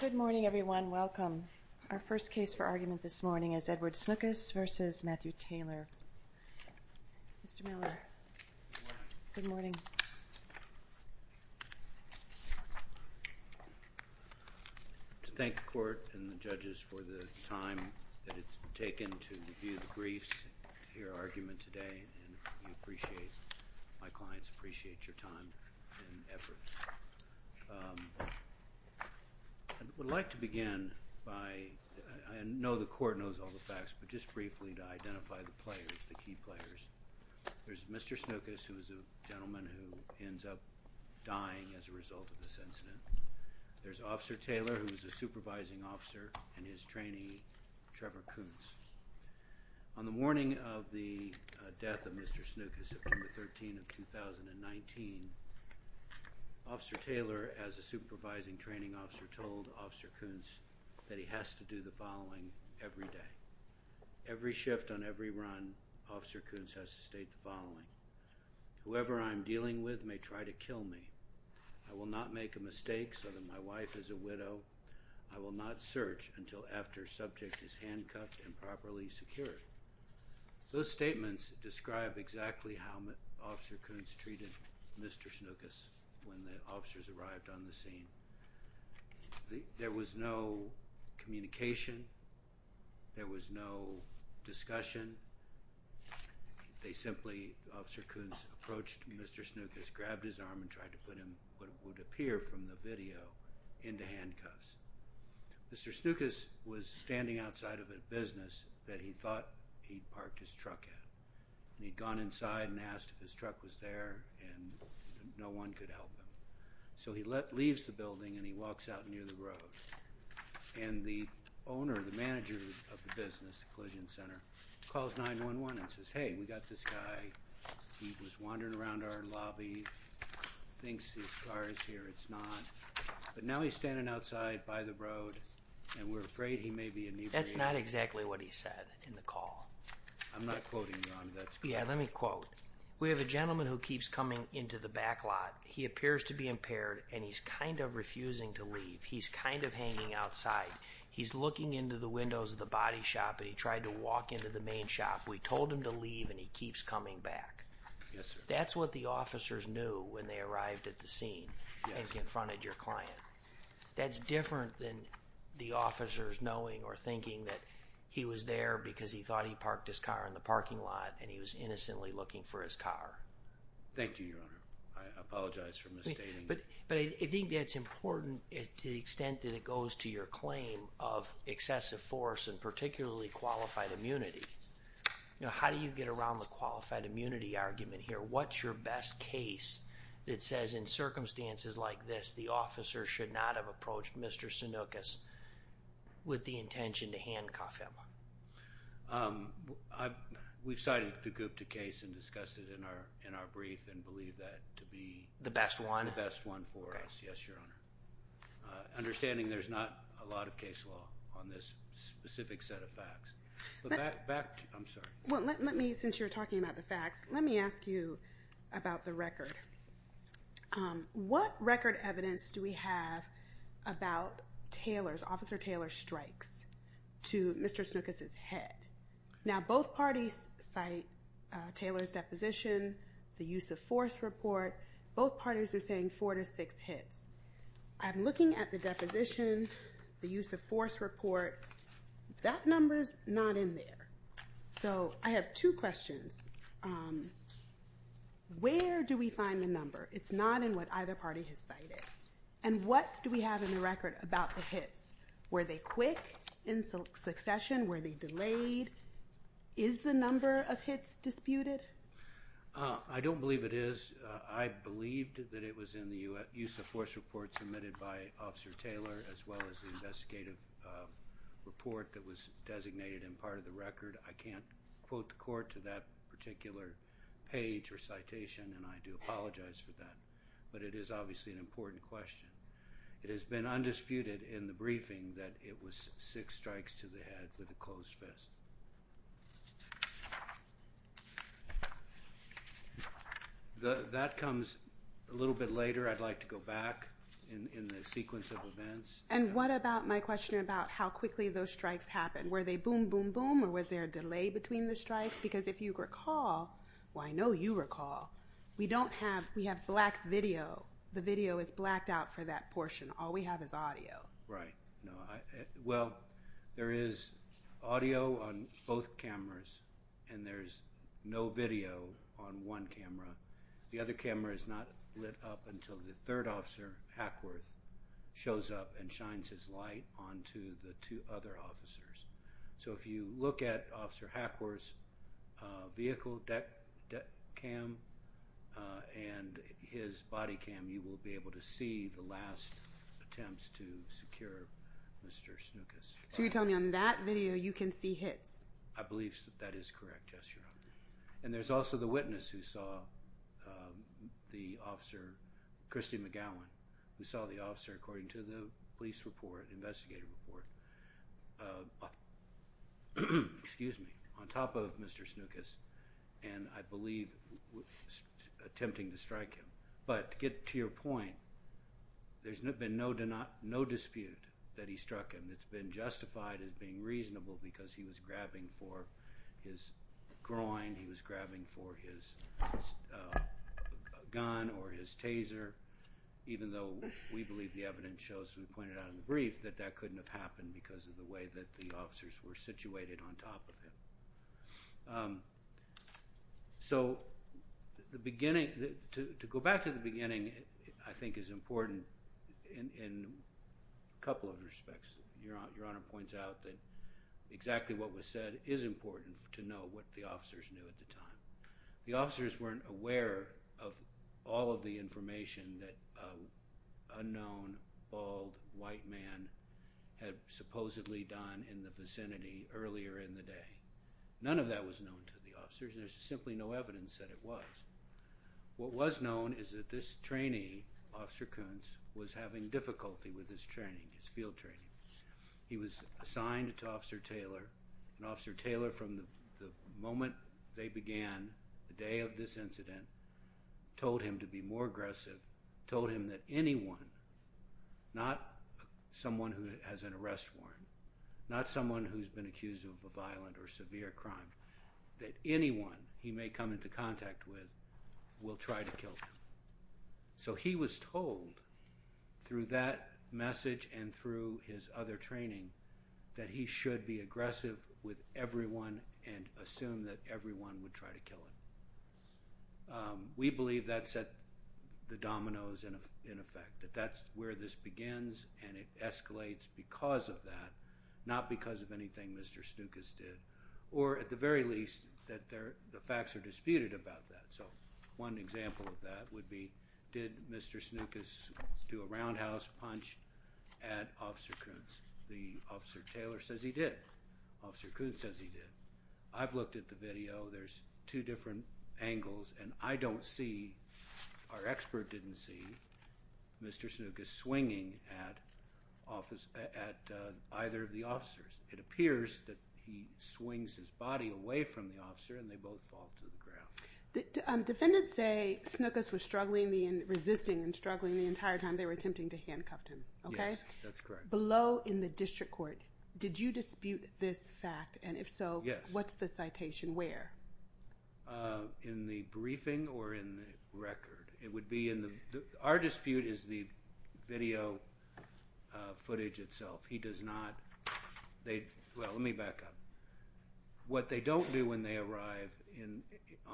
Good morning, everyone. Welcome. Our first case for argument this morning is Edward Snukis v. Matthew Taylor. Mr. Miller, good morning. To thank the Court and the judges for the time that it's taken to review the briefs, I would like to begin by, I know the Court knows all the facts, but just briefly to identify the players, the key players. There's Mr. Snukis, who is a gentleman who ends up dying as a result of this incident. There's Officer Taylor, who is a supervising officer, and his trainee, Trevor Koontz. On the morning of the death of Mr. Snukis, September 13, 2019, Officer Taylor, as a supervising training officer, told Officer Koontz that he has to do the following every day. Every shift on every run, Officer Koontz has to state the following, Whoever I'm dealing with may try to kill me. I will not make a mistake so that my wife is a widow. I will not search until after subject is handcuffed and properly secured. Those statements describe exactly how Officer Koontz treated Mr. Snukis when the officers arrived on the scene. There was no communication. There was no discussion. They simply, Officer Koontz approached Mr. Snukis, grabbed his arm and tried to put him, what would appear from the video, into handcuffs. Mr. Snukis was standing outside of a business that he thought he'd parked his truck at. He'd gone inside and asked if his truck was there, and no one could help him. So he leaves the building and he walks out near the road. And the owner, the manager of the business, the collision center, calls 911 and says, Hey, we got this guy. He was wandering around our lobby, thinks his car is here. It's not. But now he's standing outside by the road, and we're afraid he may be inebriated. That's not exactly what he said in the call. I'm not quoting you on that. Yeah, let me quote. We have a gentleman who keeps coming into the back lot. He appears to be impaired, and he's kind of refusing to leave. He's kind of hanging outside. He's looking into the windows of the body shop, and he tried to walk into the main shop. We told him to leave, and he keeps coming back. Yes, sir. That's what the officers knew when they arrived at the scene and confronted your client. That's different than the officers knowing or thinking that he was there because he thought he parked his car in the parking lot, and he was innocently looking for his car. Thank you, Your Honor. I apologize for misstating that. But I think that's important to the extent that it goes to your claim of excessive force and particularly qualified immunity. How do you get around the qualified immunity argument here? What's your best case that says in circumstances like this, the officer should not have approached Mr. Sanoukis with the intention to handcuff him? We've cited the Gupta case and discussed it in our brief and believe that to be the best one for us. Yes, Your Honor. Understanding there's not a lot of case law on this specific set of facts. But back to you. I'm sorry. Well, let me, since you're talking about the facts, let me ask you about the record. What record evidence do we have about Taylor's, Officer Taylor's strikes to Mr. Sanoukis' head? Now, both parties cite Taylor's deposition, the use of force report. Both parties are saying four to six hits. I'm looking at the deposition, the use of force report. That number's not in there. So I have two questions. Where do we find the number? It's not in what either party has cited. And what do we have in the record about the hits? Were they quick in succession? Were they delayed? Is the number of hits disputed? I don't believe it is. I believed that it was in the use of force report submitted by Officer Taylor, as well as the investigative report that was designated in part of the record. I can't quote the court to that particular page or citation, and I do apologize for that. But it is obviously an important question. It has been undisputed in the briefing that it was six strikes to the head with a closed fist. That comes a little bit later. I'd like to go back in the sequence of events. And what about my question about how quickly those strikes happened? Were they boom, boom, boom, or was there a delay between the strikes? Because if you recall, well, I know you recall, we have black video. The video is blacked out for that portion. All we have is audio. Right. Well, there is audio on both cameras, and there's no video on one camera. The other camera is not lit up until the third officer, Hackworth, shows up and shines his light onto the two other officers. So if you look at Officer Hackworth's vehicle cam and his body cam, you will be able to see the last attempts to secure Mr. Snookus. So you're telling me on that video you can see hits? I believe that is correct, yes, Your Honor. And there's also the witness who saw the officer, Christy McGowan, who saw the officer, according to the police report, the investigative report, on top of Mr. Snookus, and I believe attempting to strike him. But to get to your point, there's been no dispute that he struck him. It's been justified as being reasonable because he was grabbing for his groin, he was grabbing for his gun or his taser, even though we believe the evidence shows, as we pointed out in the brief, that that couldn't have happened because of the way that the officers were situated on top of him. So to go back to the beginning, I think, is important in a couple of respects. Your Honor points out that exactly what was said is important to know what the officers knew at the time. The officers weren't aware of all of the information that an unknown, bald, white man had supposedly done in the vicinity earlier in the day. None of that was known to the officers. There's simply no evidence that it was. What was known is that this trainee, Officer Koontz, was having difficulty with his training, his field training. He was assigned to Officer Taylor, and Officer Taylor, from the moment they began the day of this incident, told him to be more aggressive, told him that anyone, not someone who has an arrest warrant, not someone who's been accused of a violent or severe crime, that anyone he may come into contact with will try to kill him. So he was told, through that message and through his other training, that he should be aggressive with everyone and assume that everyone would try to kill him. We believe that set the dominoes, in effect, that that's where this begins and it escalates because of that, not because of anything Mr. Stukas did, or, at the very least, that the facts are disputed about that. So one example of that would be, did Mr. Stukas do a roundhouse punch at Officer Koontz? The Officer Taylor says he did. Officer Koontz says he did. I've looked at the video. There's two different angles, and I don't see, our expert didn't see, Mr. Stukas swinging at either of the officers. It appears that he swings his body away from the officer and they both fall to the ground. Defendants say Stukas was struggling and resisting and struggling the entire time they were attempting to handcuff him. Yes, that's correct. Below in the district court, did you dispute this fact? And if so, what's the citation where? In the briefing or in the record? It would be in the, our dispute is the video footage itself. He does not, well, let me back up. What they don't do when they arrive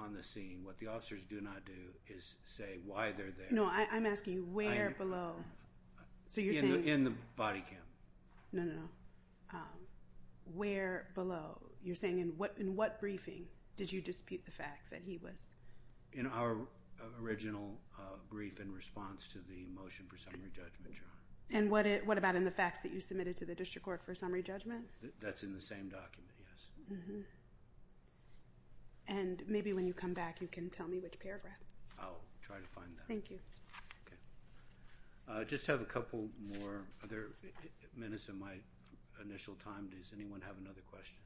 on the scene, what the officers do not do is say why they're there. No, I'm asking you where below. In the body cam. No, no, no. Where below? You're saying in what briefing did you dispute the fact that he was? In our original brief in response to the motion for summary judgment, Your Honor. And what about in the facts that you submitted to the district court for summary judgment? That's in the same document, yes. And maybe when you come back you can tell me which paragraph. I'll try to find that. Thank you. Okay. I just have a couple more minutes of my initial time. Does anyone have another question?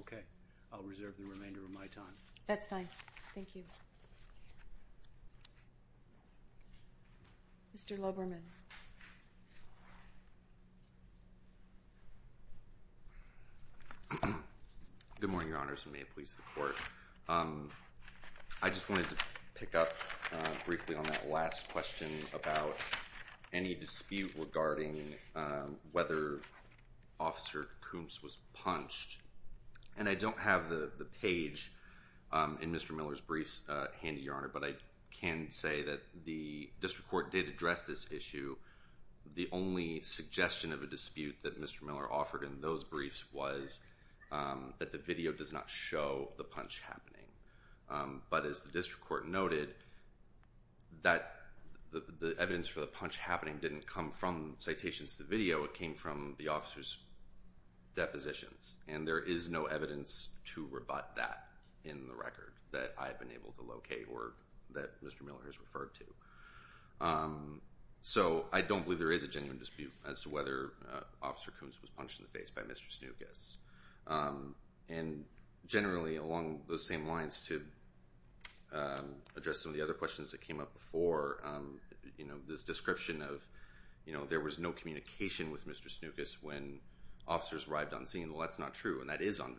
Okay. I'll reserve the remainder of my time. That's fine. Thank you. Mr. Lubberman. Good morning, Your Honors, and may it please the Court. I just wanted to pick up briefly on that last question about any dispute regarding whether Officer Koontz was punched. And I don't have the page in Mr. Miller's briefs handy, Your Honor, but I can say that the district court did address this issue. The only suggestion of a dispute that Mr. Miller offered in those briefs was that the video does not show the punch happening. But as the district court noted, the evidence for the punch happening didn't come from citations to the video. It came from the officer's depositions. And there is no evidence to rebut that in the record that I've been able to locate or that Mr. Miller has referred to. So I don't believe there is a genuine dispute as to whether Officer Koontz was punched in the face by Mr. Snukas. And generally, along those same lines, to address some of the other questions that came up before, this description of there was no communication with Mr. Snukas when officers arrived on scene. Well, that's not true, and that is on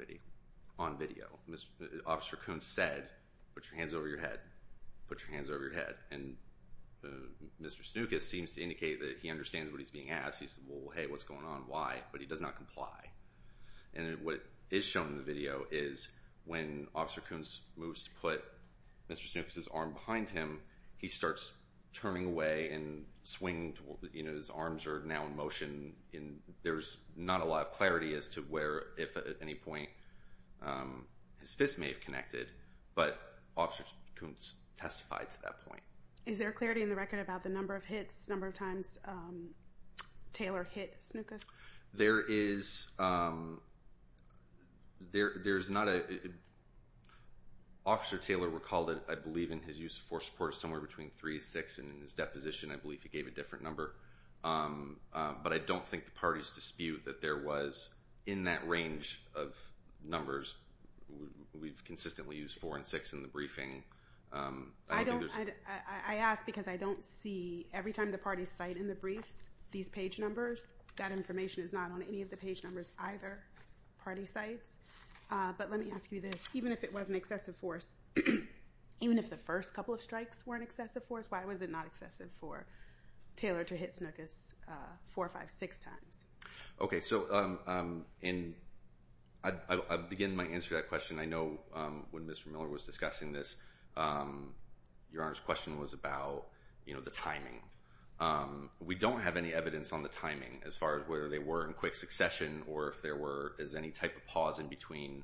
video. Officer Koontz said, put your hands over your head, put your hands over your head. And Mr. Snukas seems to indicate that he understands what he's being asked. He said, well, hey, what's going on, why? But he does not comply. And what is shown in the video is when Officer Koontz moves to put Mr. Snukas' arm behind him, he starts turning away and swinging, you know, his arms are now in motion. And there's not a lot of clarity as to where, if at any point, his fist may have connected. But Officer Koontz testified to that point. Is there clarity in the record about the number of hits, number of times Taylor hit Snukas? There is not a—Officer Taylor recalled it, I believe, in his use of force support, somewhere between 3 and 6 in his deposition. I believe he gave a different number. But I don't think the parties dispute that there was, in that range of numbers, we've consistently used 4 and 6 in the briefing. I ask because I don't see, every time the parties cite in the briefs these page numbers, that information is not on any of the page numbers either, party cites. But let me ask you this. Even if it was an excessive force, even if the first couple of strikes were an excessive force, why was it not excessive for Taylor to hit Snukas 4, 5, 6 times? Okay, so I'll begin my answer to that question. I know when Mr. Miller was discussing this, Your Honor's question was about, you know, the timing. We don't have any evidence on the timing as far as whether they were in quick succession or if there was any type of pause in between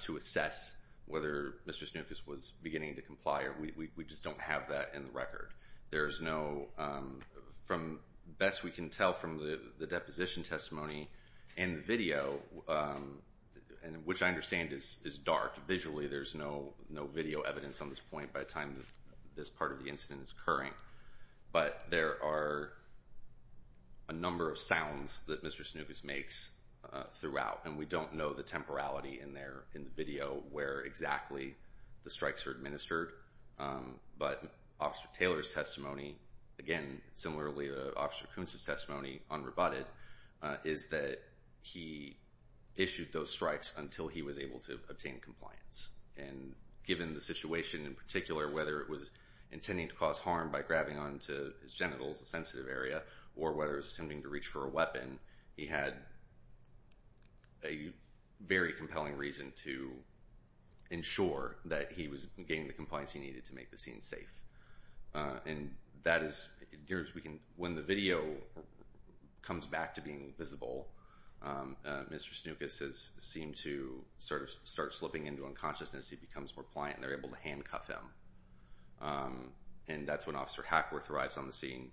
to assess whether Mr. Snukas was beginning to comply. We just don't have that in the record. There is no, from best we can tell from the deposition testimony and the video, which I understand is dark, visually there's no video evidence on this point by the time this part of the incident is occurring. But there are a number of sounds that Mr. Snukas makes throughout, and we don't know the temporality in the video where exactly the strikes were administered. But Officer Taylor's testimony, again, similarly to Officer Kuntz's testimony, unrebutted, is that he issued those strikes until he was able to obtain compliance. And given the situation in particular, whether it was intending to cause harm by grabbing onto his genitals, a sensitive area, or whether it was attempting to reach for a weapon, he had a very compelling reason to ensure that he was getting the compliance he needed to make the scene safe. And that is, when the video comes back to being visible, Mr. Snukas has seemed to sort of start slipping into unconsciousness. He becomes more pliant, and they're able to handcuff him. And that's when Officer Hackworth arrives on the scene.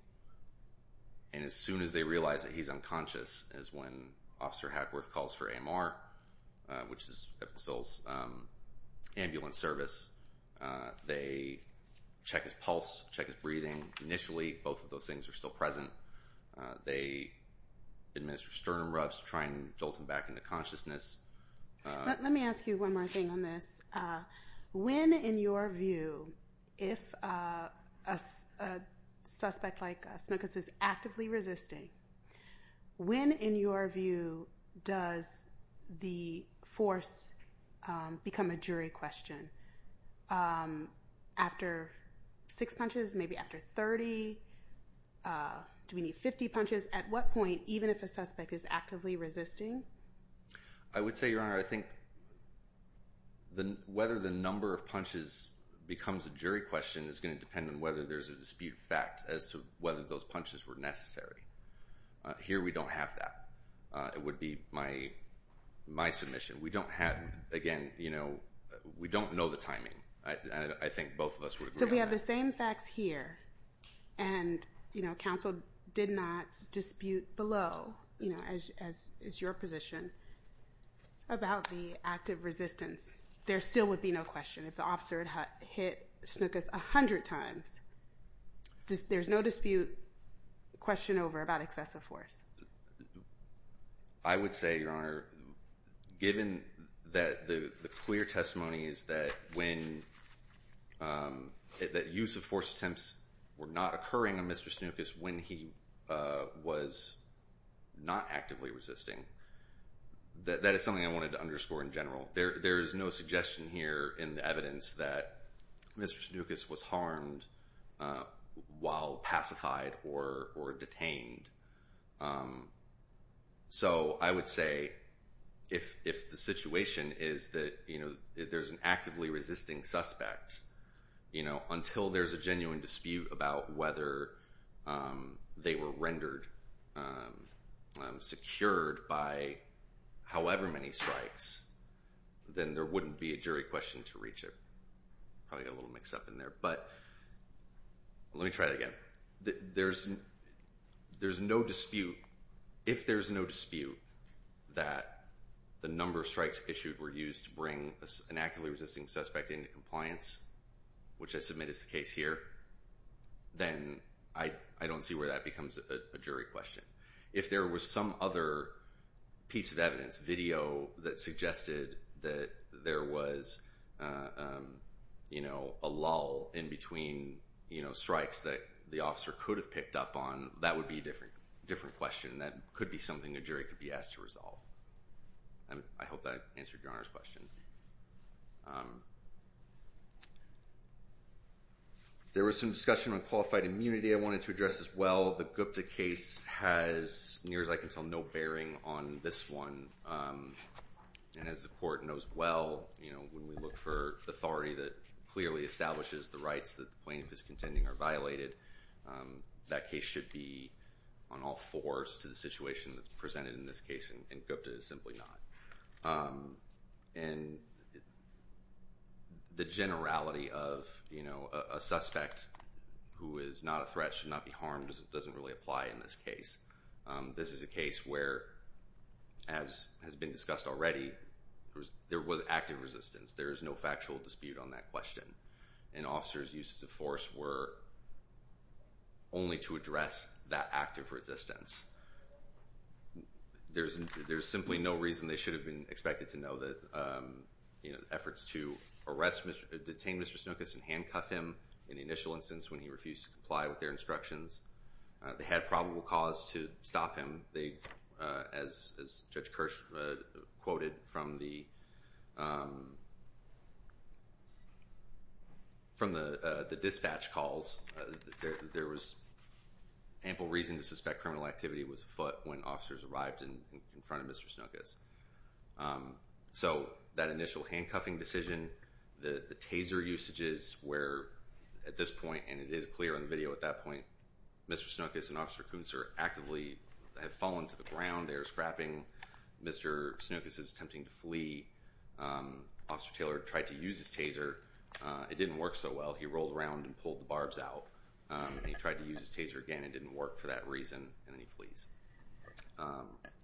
And as soon as they realize that he's unconscious is when Officer Hackworth calls for AMR, which is Evansville's ambulance service. They check his pulse, check his breathing. Initially, both of those things are still present. They administer sternum rubs to try and jolt him back into consciousness. Let me ask you one more thing on this. When, in your view, if a suspect like Snukas is actively resisting, when, in your view, does the force become a jury question? After six punches, maybe after 30, do we need 50 punches? At what point, even if a suspect is actively resisting? I would say, Your Honor, I think whether the number of punches becomes a jury question is going to depend on whether there's a dispute of fact as to whether those punches were necessary. Here, we don't have that. It would be my submission. Again, we don't know the timing. I think both of us would agree on that. So we have the same facts here, and counsel did not dispute below, as is your position, about the act of resistance. There still would be no question. If the officer had hit Snukas 100 times, there's no dispute, question over about excessive force. I would say, Your Honor, given that the clear testimony is that use of force attempts were not occurring on Mr. Snukas when he was not actively resisting, that is something I wanted to underscore in general. There is no suggestion here in the evidence that Mr. Snukas was harmed while pacified or detained. So I would say if the situation is that there's an actively resisting suspect, until there's a genuine dispute about whether they were rendered secured by however many strikes, then there wouldn't be a jury question to reach it. Probably got a little mixed up in there. But let me try it again. If there's no dispute that the number of strikes issued were used to bring an actively resisting suspect into compliance, which I submit is the case here, then I don't see where that becomes a jury question. If there was some other piece of evidence, video, that suggested that there was a lull in between strikes that the officer could have picked up on, that would be a different question. That could be something a jury could be asked to resolve. I hope that answered Your Honor's question. There was some discussion on qualified immunity I wanted to address as well. The Gupta case has, near as I can tell, no bearing on this one. And as the court knows well, when we look for authority that clearly establishes the rights that the plaintiff is contending are violated, that case should be on all fours to the situation that's presented in this case, and Gupta is simply not. And the generality of a suspect who is not a threat should not be harmed doesn't really apply in this case. This is a case where, as has been discussed already, there was active resistance. There is no factual dispute on that question. An officer's uses of force were only to address that active resistance. There's simply no reason they should have been expected to know that efforts to arrest, detain Mr. Snookus and handcuff him in the initial instance when he refused to comply with their instructions, they had probable cause to stop him. As Judge Kirsch quoted from the dispatch calls, there was ample reason to suspect criminal activity was afoot when officers arrived in front of Mr. Snookus. So that initial handcuffing decision, the taser usages where, at this point, and it is clear in the video at that point, Mr. Snookus and Officer Koontzer actively have fallen to the ground. They're scrapping. Mr. Snookus is attempting to flee. Officer Taylor tried to use his taser. It didn't work so well. He rolled around and pulled the barbs out, and he tried to use his taser again. It didn't work for that reason, and then he flees.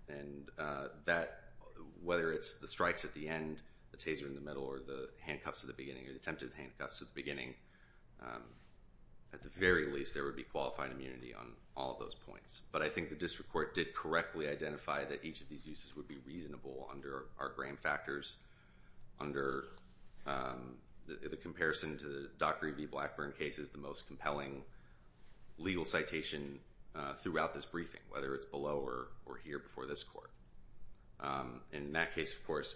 And that, whether it's the strikes at the end, the taser in the middle, or the handcuffs at the beginning, or the attempted handcuffs at the beginning, at the very least, there would be qualified immunity on all of those points. But I think the district court did correctly identify that each of these uses would be reasonable under our gram factors, under the comparison to the Dockery v. Blackburn case is the most compelling legal citation throughout this briefing, whether it's below or here before this court. In that case, of course,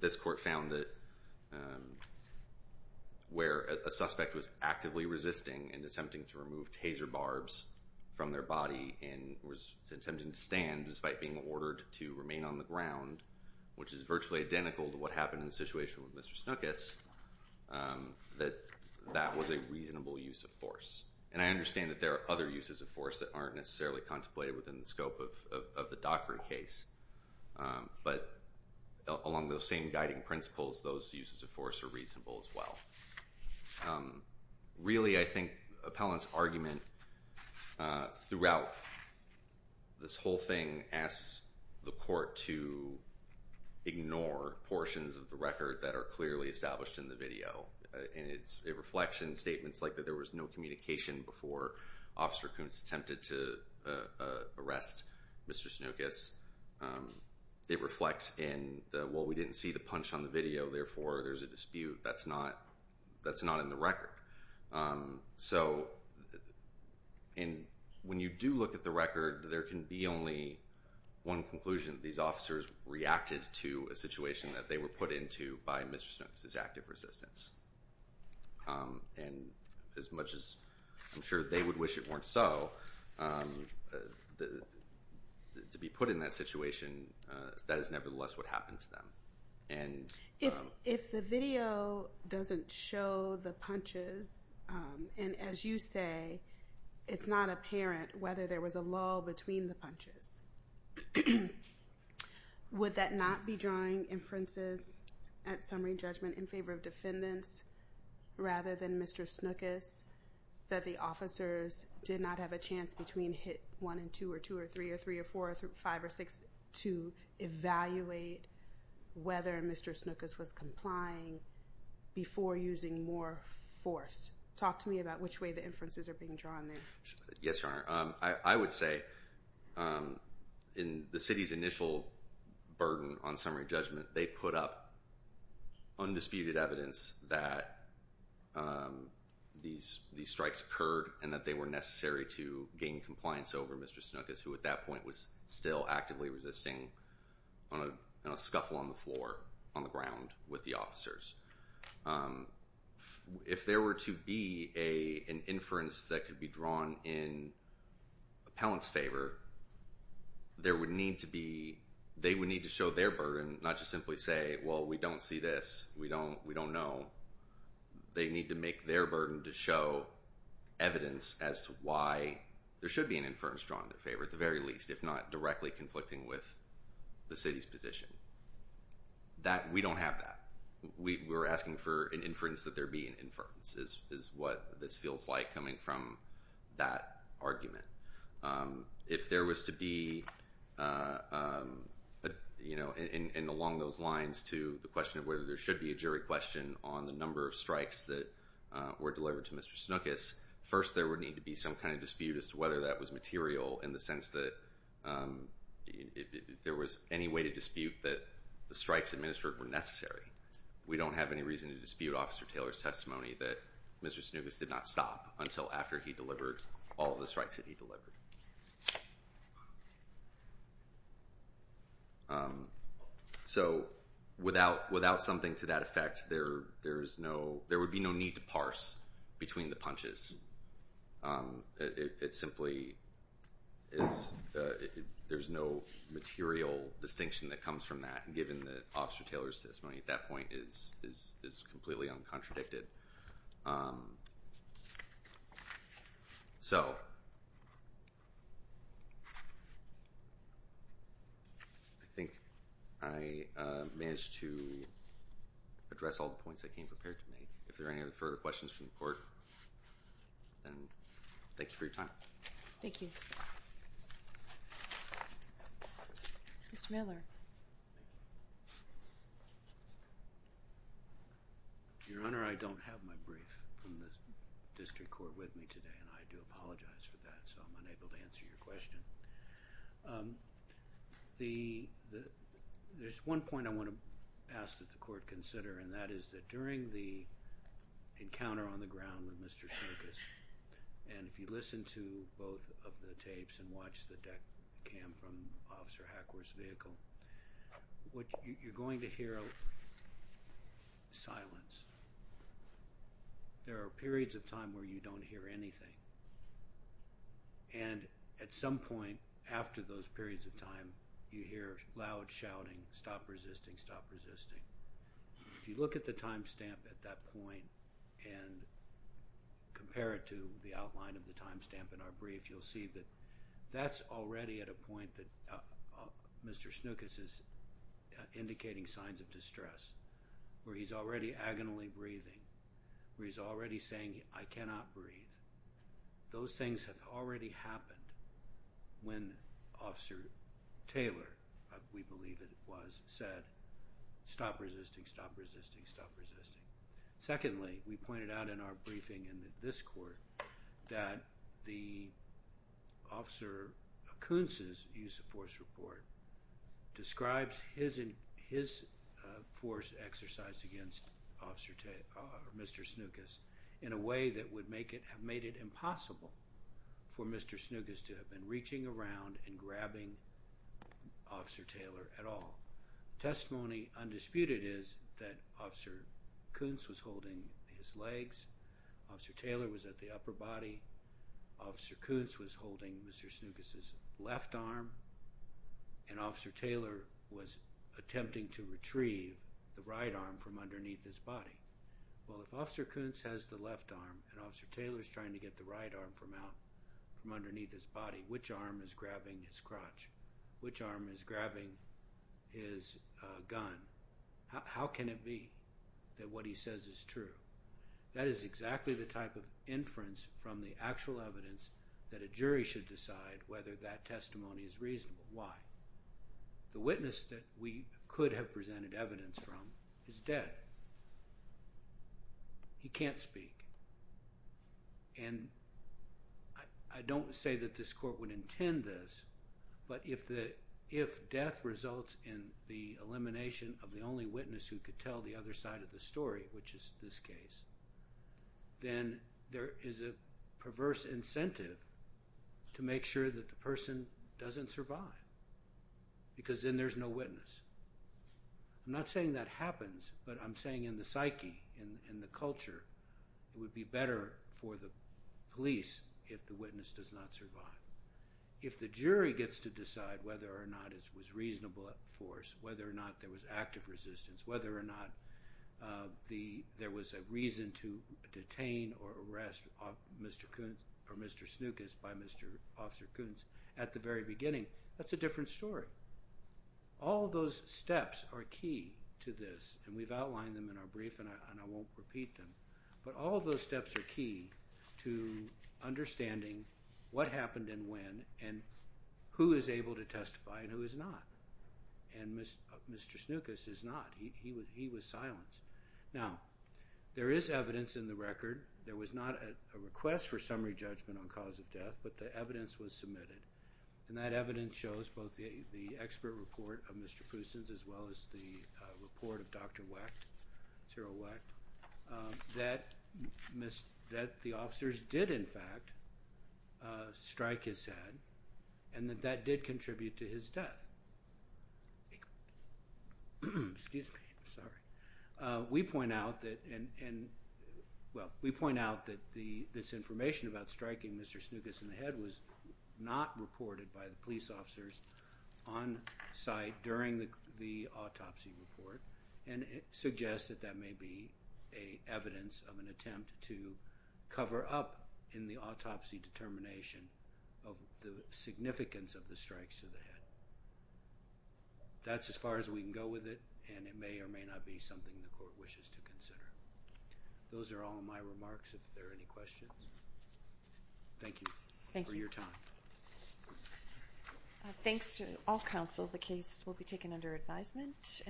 this court found that where a suspect was actively resisting and attempting to remove taser barbs from their body and was attempting to stand despite being ordered to remain on the ground, which is virtually identical to what happened in the situation with Mr. Snookus, that that was a reasonable use of force. And I understand that there are other uses of force that aren't necessarily contemplated within the scope of the Dockery case. But along those same guiding principles, those uses of force are reasonable as well. Really, I think Appellant's argument throughout this whole thing asks the court to ignore portions of the record that are clearly established in the video. And it reflects in statements like that there was no communication before Officer Kuntz attempted to arrest Mr. Snookus. It reflects in the, well, we didn't see the punch on the video, therefore, there's a dispute. That's not in the record. So when you do look at the record, there can be only one conclusion. These officers reacted to a situation that they were put into by Mr. Snookus' active resistance. And as much as I'm sure they would wish it weren't so, to be put in that situation, that is nevertheless what happened to them. If the video doesn't show the punches, and as you say, it's not apparent whether there was a lull between the punches, would that not be drawing inferences at summary judgment in favor of defendants rather than Mr. Snookus, that the officers did not have a chance between hit 1 and 2 or 2 or 3 or 3 or 4 or 5 or 6 to evaluate whether Mr. Snookus was complying before using more force? Talk to me about which way the inferences are being drawn there. Yes, Your Honor. I would say in the city's initial burden on summary judgment, they put up undisputed evidence that these strikes occurred and that they were necessary to gain compliance over Mr. Snookus, who at that point was still actively resisting on a scuffle on the floor on the ground with the officers. If there were to be an inference that could be drawn in appellant's favor, they would need to show their burden, not just simply say, well, we don't see this, we don't know. They need to make their burden to show evidence as to why there should be an inference drawn in their favor at the very least, if not directly conflicting with the city's position. We don't have that. We were asking for an inference that there be an inference, is what this feels like coming from that argument. If there was to be, and along those lines to the question of whether there should be a jury question on the number of strikes that were delivered to Mr. Snookus, first there would need to be some kind of dispute as to whether that was material in the sense that if there was any way to dispute that the strikes administered were necessary. We don't have any reason to dispute Officer Taylor's testimony that Mr. Snookus did not stop until after he delivered all of the strikes that he delivered. So without something to that effect, there would be no need to parse between the punches. It simply is, there's no material distinction that comes from that, given that Officer Taylor's testimony at that point is completely uncontradicted. So I think I managed to address all the points I came prepared to make. If there are any further questions from the court, then thank you for your time. Thank you. Mr. Miller. Your Honor, I don't have my brief from the district court with me today, and I do apologize for that, so I'm unable to answer your question. There's one point I want to ask that the court consider, and that is that during the encounter on the ground with Mr. Snookus, and if you listen to both of the tapes and watch the deck cam from Officer Hackworth's vehicle, you're going to hear silence. There are periods of time where you don't hear anything, and at some point after those periods of time, you hear loud shouting, stop resisting, stop resisting. If you look at the time stamp at that point and compare it to the outline of the time stamp in our brief, you'll see that that's already at a point that Mr. Snookus is indicating signs of distress, where he's already agonizingly breathing, where he's already saying, I cannot breathe. Those things have already happened when Officer Taylor, we believe it was, said, stop resisting, stop resisting, stop resisting. Secondly, we pointed out in our briefing in this court that the Officer Kuntz's use of force report describes his force exercise against Mr. Snookus in a way that would have made it impossible for Mr. Snookus to have been reaching around and grabbing Officer Taylor at all. Testimony undisputed is that Officer Kuntz was holding his legs, Officer Taylor was at the upper body, Officer Kuntz was holding Mr. Snookus's left arm, and Officer Taylor was attempting to retrieve the right arm from underneath his body. Well, if Officer Kuntz has the left arm and Officer Taylor is trying to get the right arm from underneath his body, which arm is grabbing his crotch, which arm is grabbing his gun, how can it be that what he says is true? That is exactly the type of inference from the actual evidence that a jury should decide whether that testimony is reasonable. Why? The witness that we could have presented evidence from is dead. He can't speak. And I don't say that this court would intend this, but if death results in the elimination of the only witness who could tell the other side of the story, which is this case, then there is a perverse incentive to make sure that the person doesn't survive because then there's no witness. I'm not saying that happens, but I'm saying in the psyche, in the culture, it would be better for the police if the witness does not survive. If the jury gets to decide whether or not it was reasonable force, whether or not there was active resistance, whether or not there was a reason to detain or arrest Mr. Kuntz or Mr. Snookus by Mr. Officer Kuntz at the very beginning, that's a different story. All of those steps are key to this, and we've outlined them in our brief, and I won't repeat them. But all of those steps are key to understanding what happened and when and who is able to testify and who is not. And Mr. Snookus is not. He was silenced. Now, there is evidence in the record. There was not a request for summary judgment on cause of death, but the evidence was submitted. And that evidence shows both the expert report of Mr. Poustons as well as the report of Dr. Wecht, Cyril Wecht, that the officers did, in fact, strike his head and that that did contribute to his death. Excuse me. I'm sorry. We point out that this information about striking Mr. Snookus in the head was not reported by the police officers on site during the autopsy report, and it suggests that that may be evidence of an attempt to cover up in the autopsy determination of the significance of the strikes to the head. That's as far as we can go with it, and it may or may not be something the court wishes to consider. Those are all my remarks. If there are any questions, thank you for your time. Thanks to all counsel. The case will be taken under advisement.